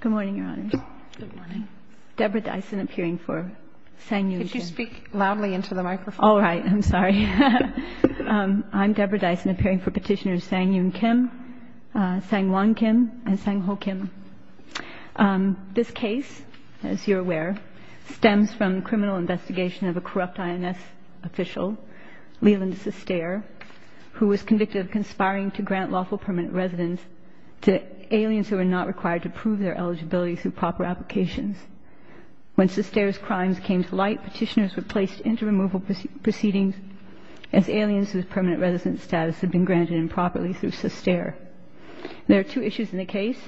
Good morning, Your Honors. Good morning. Deborah Dyson, appearing for Sang Yoon Kim. Could you speak loudly into the microphone? All right. I'm sorry. I'm Deborah Dyson, appearing for petitioners Sang Yoon Kim, Sang Won Kim, and Sang Ho Kim. This case, as you're aware, stems from criminal investigation of a corrupt INS official, Leland Sestere, who was convicted of conspiring to grant lawful permanent residence to aliens who were not required to prove their eligibility through proper applications. When Sestere's crimes came to light, petitioners were placed into removal proceedings as aliens whose permanent residence status had been granted improperly through Sestere. There are two issues in the case,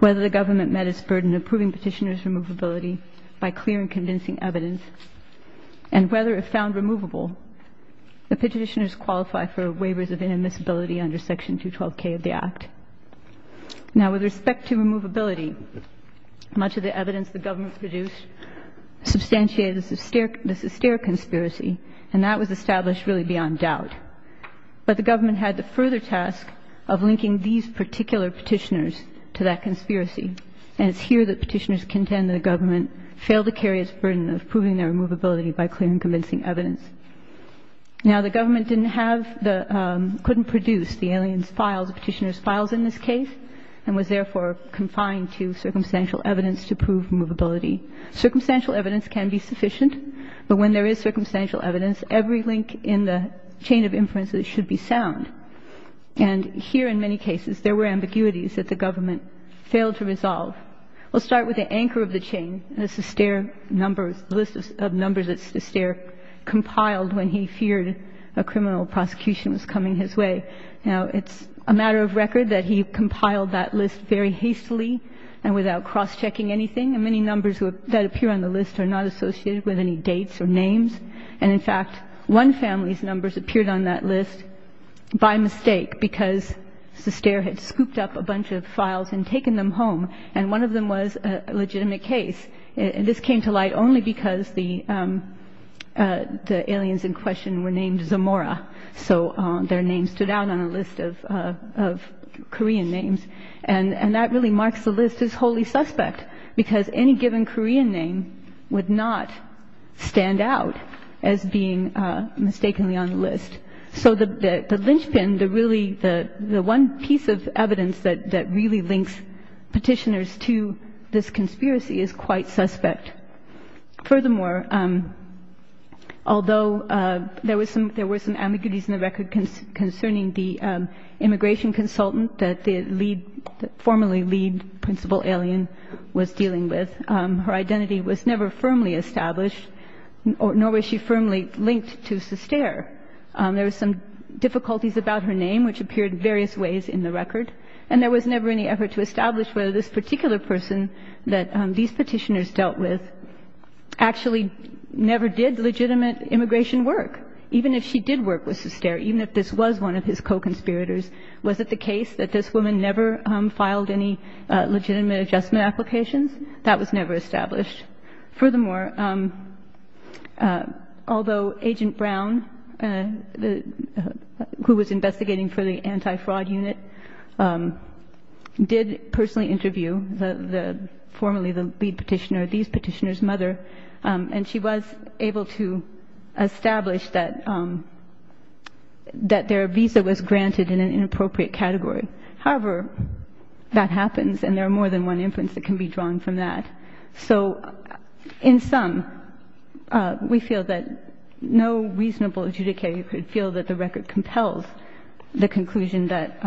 whether the government met its burden of proving petitioners' removability by clear and convincing evidence, and whether, if found removable, the petitioners qualify for waivers of inadmissibility under Section 212K of the Act. Now, with respect to removability, much of the evidence the government produced substantiated the Sestere conspiracy, and that was established really beyond doubt. But the government had the further task of linking these particular petitioners to that conspiracy, and it's here that petitioners contend that the government failed to carry its burden of proving their removability by clear and convincing evidence. Now, the government couldn't produce the aliens' files. The petitioners' files, in this case, and was therefore confined to circumstantial evidence to prove removability. Circumstantial evidence can be sufficient, but when there is circumstantial evidence, every link in the chain of inference should be sound. And here, in many cases, there were ambiguities that the government failed to resolve. We'll start with the anchor of the chain, the Sestere numbers, the list of numbers that Sestere compiled when he feared a criminal prosecution was coming his way. Now, it's a matter of record that he compiled that list very hastily and without cross-checking anything, and many numbers that appear on the list are not associated with any dates or names. And, in fact, one family's numbers appeared on that list by mistake because Sestere had scooped up a bunch of files and taken them home, and one of them was a legitimate case. This came to light only because the aliens in question were named Zamora, so their name stood out on a list of Korean names. And that really marks the list as wholly suspect because any given Korean name would not stand out as being mistakenly on the list. So the linchpin, the really the one piece of evidence that really links Petitioners to this conspiracy is quite suspect. Furthermore, although there were some ambiguities in the record concerning the immigration consultant that the formerly lead principal alien was dealing with, her identity was never firmly established, nor was she firmly linked to Sestere. There were some difficulties about her name, which appeared various ways in the record, and there was never any effort to establish whether this particular person that these Petitioners dealt with actually never did legitimate immigration work. Even if she did work with Sestere, even if this was one of his co-conspirators, was it the case that this woman never filed any legitimate adjustment applications? That was never established. Furthermore, although Agent Brown, who was investigating for the anti-fraud unit, did personally interview the formerly the lead Petitioner, these Petitioners' mother, and she was able to establish that their visa was granted in an inappropriate category. However, that happens, and there are more than one inference that can be drawn from that. So in sum, we feel that no reasonable adjudicator could feel that the record compels the conclusion that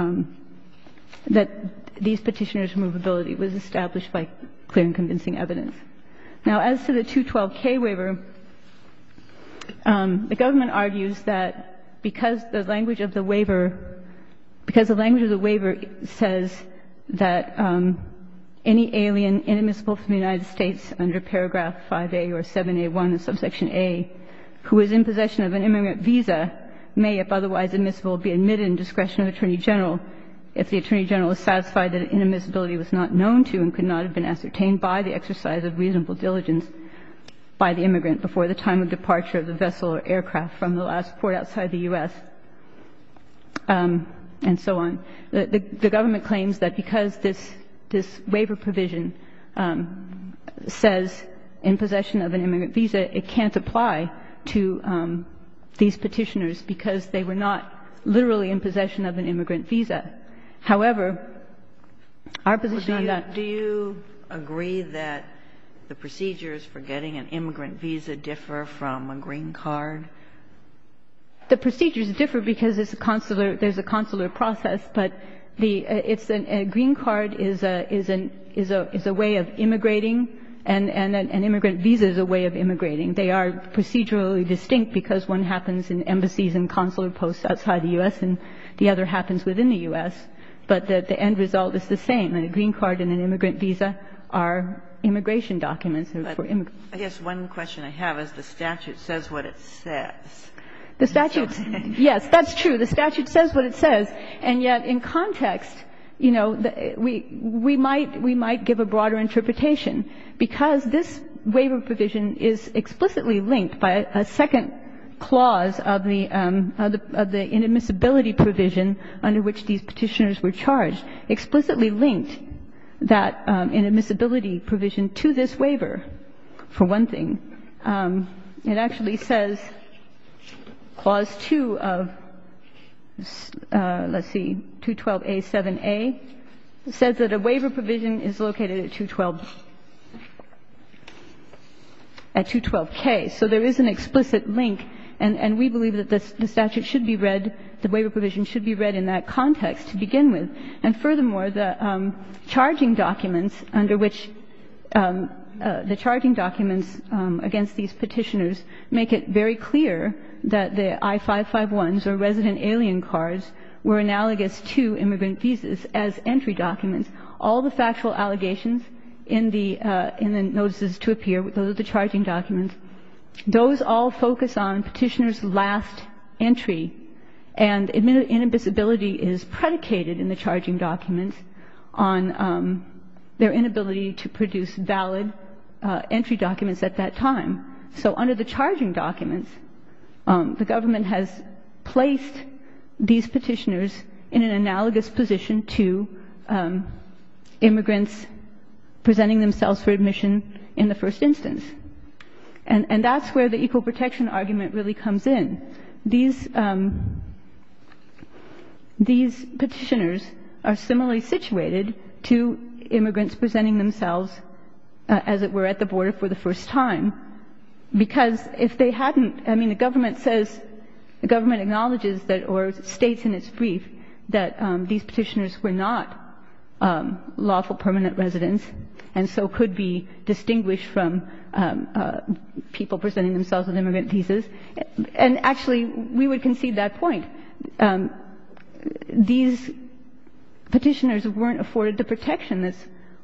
these Petitioners' movability was established by clear and convincing evidence. Now, as to the 212K waiver, the government argues that because the language of the waiver says that any alien inadmissible from the United States under paragraph 5A or 7A1 of subsection A who is in possession of an immigrant visa may, if otherwise admissible, be admitted in discretion of attorney general if the attorney general is satisfied that inadmissibility was not known to and could not have been ascertained by the exercise of reasonable diligence by the immigrant before the time of departure of the vessel or aircraft from the last port outside the U.S. and so on. The government claims that because this waiver provision says in possession of an immigrant visa, it can't apply to these Petitioners because they were not literally in possession of an immigrant visa. However, our position on that does not apply. The procedures differ because there's a consular process, but a green card is a way of immigrating and an immigrant visa is a way of immigrating. They are procedurally distinct because one happens in embassies and consular posts outside the U.S. and the other happens within the U.S. But the end result is the same. A green card and an immigrant visa are immigration documents. I guess one question I have is the statute says what it says. The statute, yes, that's true. The statute says what it says. And yet in context, you know, we might give a broader interpretation because this waiver provision is explicitly linked by a second clause of the inadmissibility provision under which these Petitioners were charged, explicitly linked that inadmissibility provision to this waiver, for one thing. It actually says clause 2 of, let's see, 212a7a, says that a waiver provision is located at 212k. So there is an explicit link, and we believe that the statute should be read, the waiver provision should be read in that context to begin with. And furthermore, the charging documents under which the charging documents against these Petitioners make it very clear that the I-551s or resident alien cards were analogous to immigrant visas as entry documents. All the factual allegations in the notices to appear, those are the charging documents, those all focus on Petitioners' last entry, and inadmissibility is predicated in the charging documents on their inability to produce valid entry documents at that time. So under the charging documents, the government has placed these Petitioners in an analogous position to immigrants presenting themselves for admission in the first instance. And that's where the equal protection argument really comes in. These Petitioners are similarly situated to immigrants presenting themselves as it were at the border for the first time, because if they hadn't, I mean, the government says, the government acknowledges or states in its brief that these Petitioners were not lawful permanent residents and so could be distinguished from people presenting themselves with immigrant visas. And actually, we would concede that point. These Petitioners weren't afforded the protection that's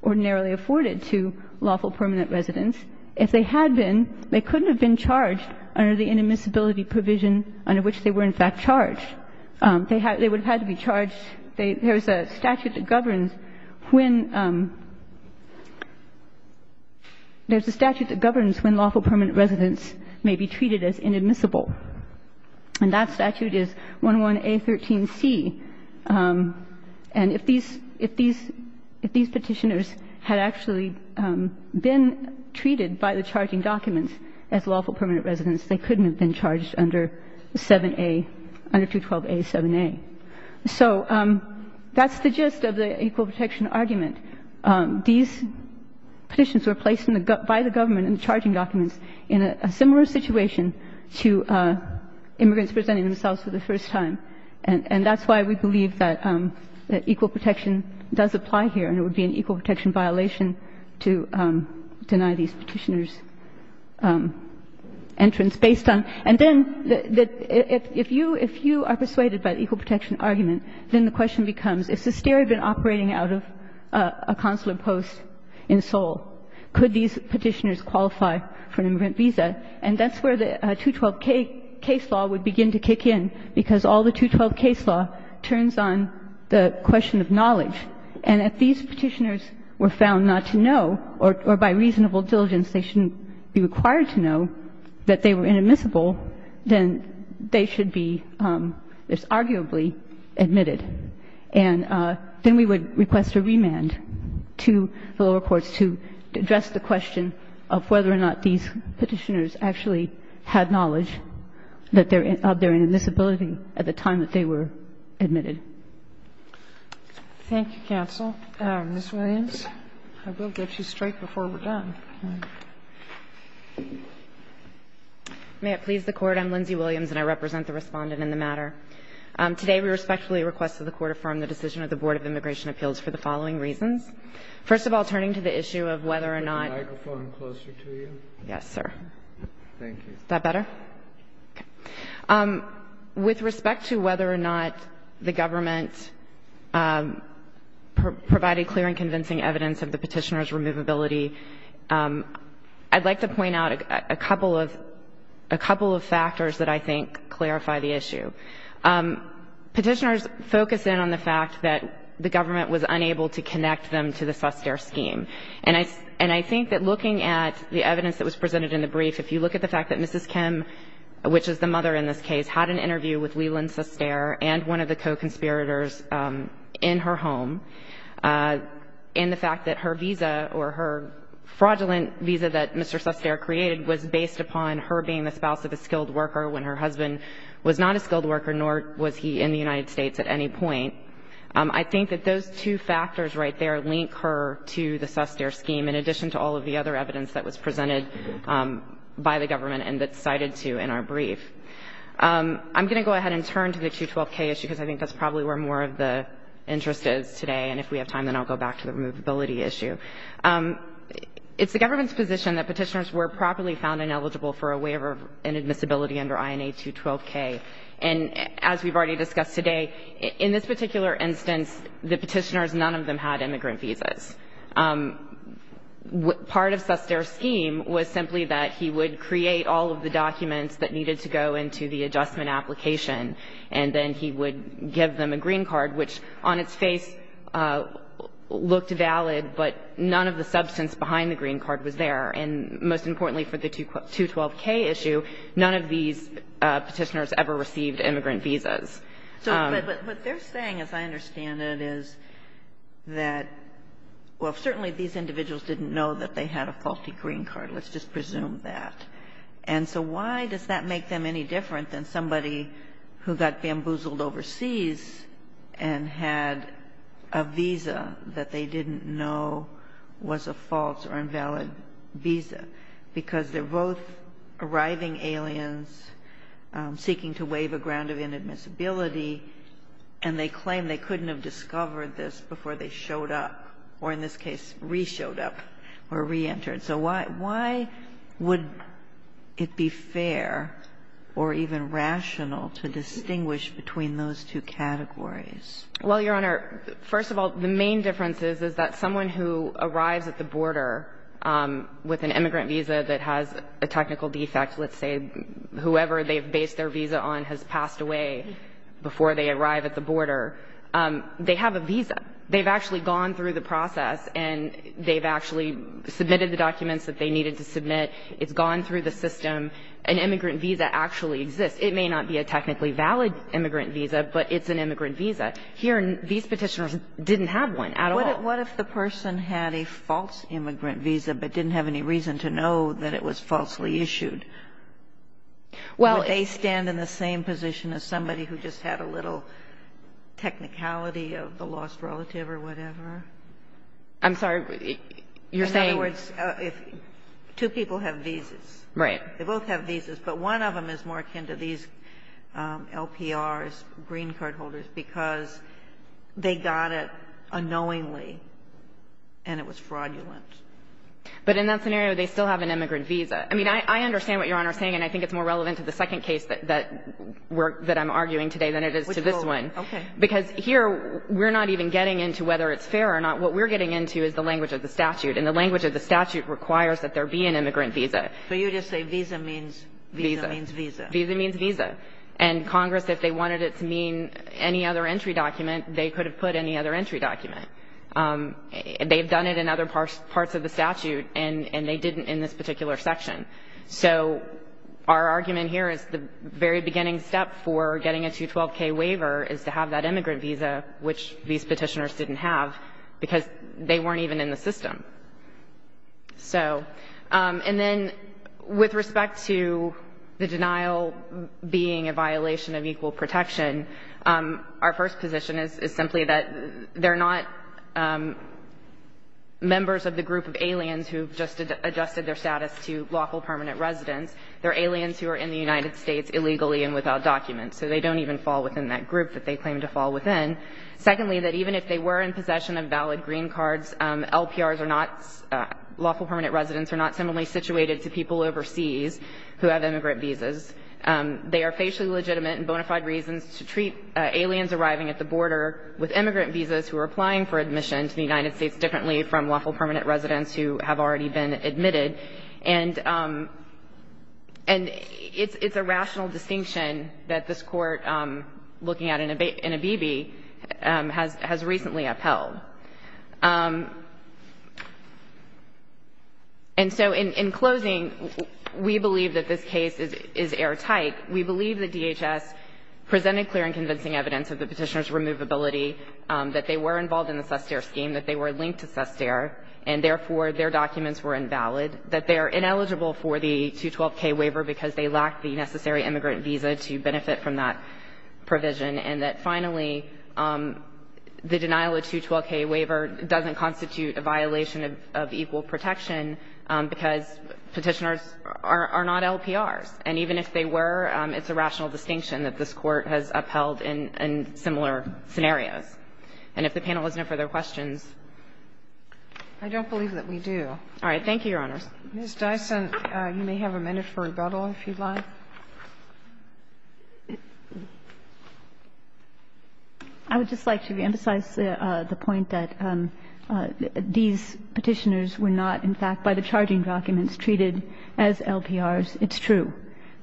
ordinarily afforded to lawful permanent residents. If they had been, they couldn't have been charged under the inadmissibility provision under which they were in fact charged. They would have had to be charged. There's a statute that governs when lawful permanent residents may be treated as inadmissible, and that statute is 11A13C. And if these Petitioners had actually been treated by the charging documents as lawful permanent residents, they couldn't have been charged under 7A, under 212A7A. So that's the gist of the equal protection argument. These Petitions were placed by the government in the charging documents in a similar situation to immigrants presenting themselves for the first time. And that's why we believe that equal protection does apply here and it would be an equal protection violation to deny these Petitioners entrance based on. And then if you are persuaded by the equal protection argument, then the question becomes, if Sosteri had been operating out of a consular post in Seoul, could these Petitioners have been charged under 7A? And that's where the 212 case law would begin to kick in, because all the 212 case law turns on the question of knowledge. And if these Petitioners were found not to know or by reasonable diligence they shouldn't be required to know that they were inadmissible, then they should be arguably admitted. And then we would request a remand to the lower courts to address the question of whether or not these Petitioners actually had knowledge that they're inadmissibility at the time that they were admitted. Thank you, counsel. Ms. Williams, I will get you straight before we're done. May it please the Court. I'm Lindsay Williams and I represent the Respondent in the matter. Today we respectfully request that the Court affirm the decision of the Board of Immigration Appeals for the following reasons. First of all, turning to the issue of whether or not — Could I have the microphone closer to you? Yes, sir. Thank you. Is that better? Okay. With respect to whether or not the government provided clear and convincing evidence of the Petitioners' removability, I'd like to point out a couple of factors that I think clarify the issue. Petitioners focus in on the fact that the government was unable to connect them to the Sustair scheme. And I think that looking at the evidence that was presented in the brief, if you look at the fact that Mrs. Kim, which is the mother in this case, had an interview with Leland Sustair and one of the co-conspirators in her home, and the fact that her visa or her fraudulent visa that Mr. Sustair created was based upon her being the spouse of a skilled worker when her husband was not a skilled worker, nor was he in the United States at any point. I think that those two factors right there link her to the Sustair scheme, in addition to all of the other evidence that was presented by the government and that's cited to in our brief. I'm going to go ahead and turn to the 212K issue, because I think that's probably where more of the interest is today. And if we have time, then I'll go back to the removability issue. It's the government's position that Petitioners were properly found ineligible for a waiver and admissibility under INA 212K. And as we've already discussed today, in this particular instance, the Petitioners, none of them had immigrant visas. Part of Sustair's scheme was simply that he would create all of the documents that needed to go into the adjustment application, and then he would give them a green card, which on its face looked valid, but none of the substance behind the green card was there. And most importantly for the 212K issue, none of these Petitioners ever received immigrant visas. So what they're saying, as I understand it, is that, well, certainly these individuals didn't know that they had a faulty green card. Let's just presume that. And so why does that make them any different than somebody who got bamboozled overseas and had a visa that they didn't know was a false or invalid visa? Because they're both arriving aliens, seeking to waive a ground of inadmissibility, and they claim they couldn't have discovered this before they showed up, or in this case re-showed up or re-entered. So why would it be fair or even rational to distinguish between those two categories? Well, Your Honor, first of all, the main difference is, is that someone who arrives at the border with an immigrant visa that has a technical defect, let's say whoever they've based their visa on has passed away before they arrive at the border, they have a visa. They've actually gone through the process and they've actually submitted the documents that they needed to submit. It's gone through the system. An immigrant visa actually exists. It may not be a technically valid immigrant visa, but it's an immigrant visa. Here, these Petitioners didn't have one at all. So what if the person had a false immigrant visa, but didn't have any reason to know that it was falsely issued? Would they stand in the same position as somebody who just had a little technicality of the lost relative or whatever? I'm sorry. You're saying? In other words, two people have visas. Right. They both have visas, but one of them is more akin to these LPRs, green card holders, because they got it unknowingly and it was fraudulent. But in that scenario, they still have an immigrant visa. I mean, I understand what Your Honor is saying, and I think it's more relevant to the second case that we're – that I'm arguing today than it is to this one. Okay. Because here, we're not even getting into whether it's fair or not. What we're getting into is the language of the statute, and the language of the statute requires that there be an immigrant visa. So you just say visa means visa. Visa means visa. Visa means visa. And Congress, if they wanted it to mean any other entry document, they could have put any other entry document. They've done it in other parts of the statute, and they didn't in this particular section. So our argument here is the very beginning step for getting a 212K waiver is to have that immigrant visa, which these Petitioners didn't have, because they weren't even in the system. So – and then with respect to the denial being a violation of equal protection, our first position is simply that they're not members of the group of aliens who just adjusted their status to lawful permanent residence. They're aliens who are in the United States illegally and without documents. So they don't even fall within that group that they claim to fall within. Secondly, that even if they were in possession of valid green cards, LPRs are not – lawful permanent residence are not similarly situated to people overseas who have immigrant visas. They are facially legitimate and bona fide reasons to treat aliens arriving at the border with immigrant visas who are applying for admission to the United States differently from lawful permanent residence who have already been admitted. And – and it's a rational distinction that this Court, looking at Inhabibi, has recently upheld. And so in closing, we believe that this case is airtight. We believe that DHS presented clear and convincing evidence of the Petitioners' removability, that they were involved in the SESTERE scheme, that they were linked to SESTERE, and therefore their documents were invalid, that they're ineligible for the 212K waiver because they lack the necessary immigrant visa to benefit from that provision, and that finally, the denial of 212K waiver doesn't constitute a violation of equal protection because Petitioners are not LPRs. And even if they were, it's a rational distinction that this Court has upheld in – in similar scenarios. And if the panel has no further questions. I don't believe that we do. All right. Thank you, Your Honors. Ms. Dyson, you may have a minute for rebuttal, if you'd like. I would just like to reemphasize the point that these Petitioners were not, in fact, by the charging documents, treated as LPRs. It's true.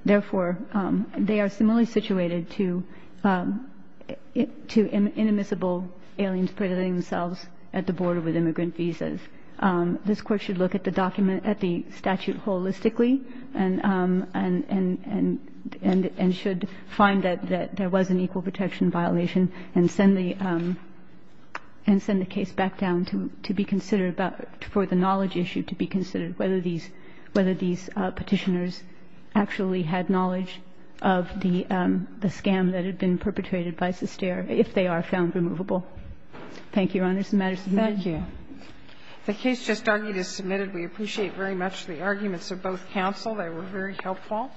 Therefore, they are similarly situated to – to inadmissible aliens predating themselves at the border with immigrant visas. This Court should look at the document – at the statute holistically, and – and – and should find that there was an equal protection violation and send the – and send the case back down to be considered about – for the knowledge issue to be considered, whether these – whether these Petitioners actually had knowledge of the scam that had been perpetrated by Sestare, if they are found removable. Thank you, Your Honors. The matter is submitted. Thank you. The case just argued is submitted. We appreciate very much the arguments of both counsel. They were very helpful.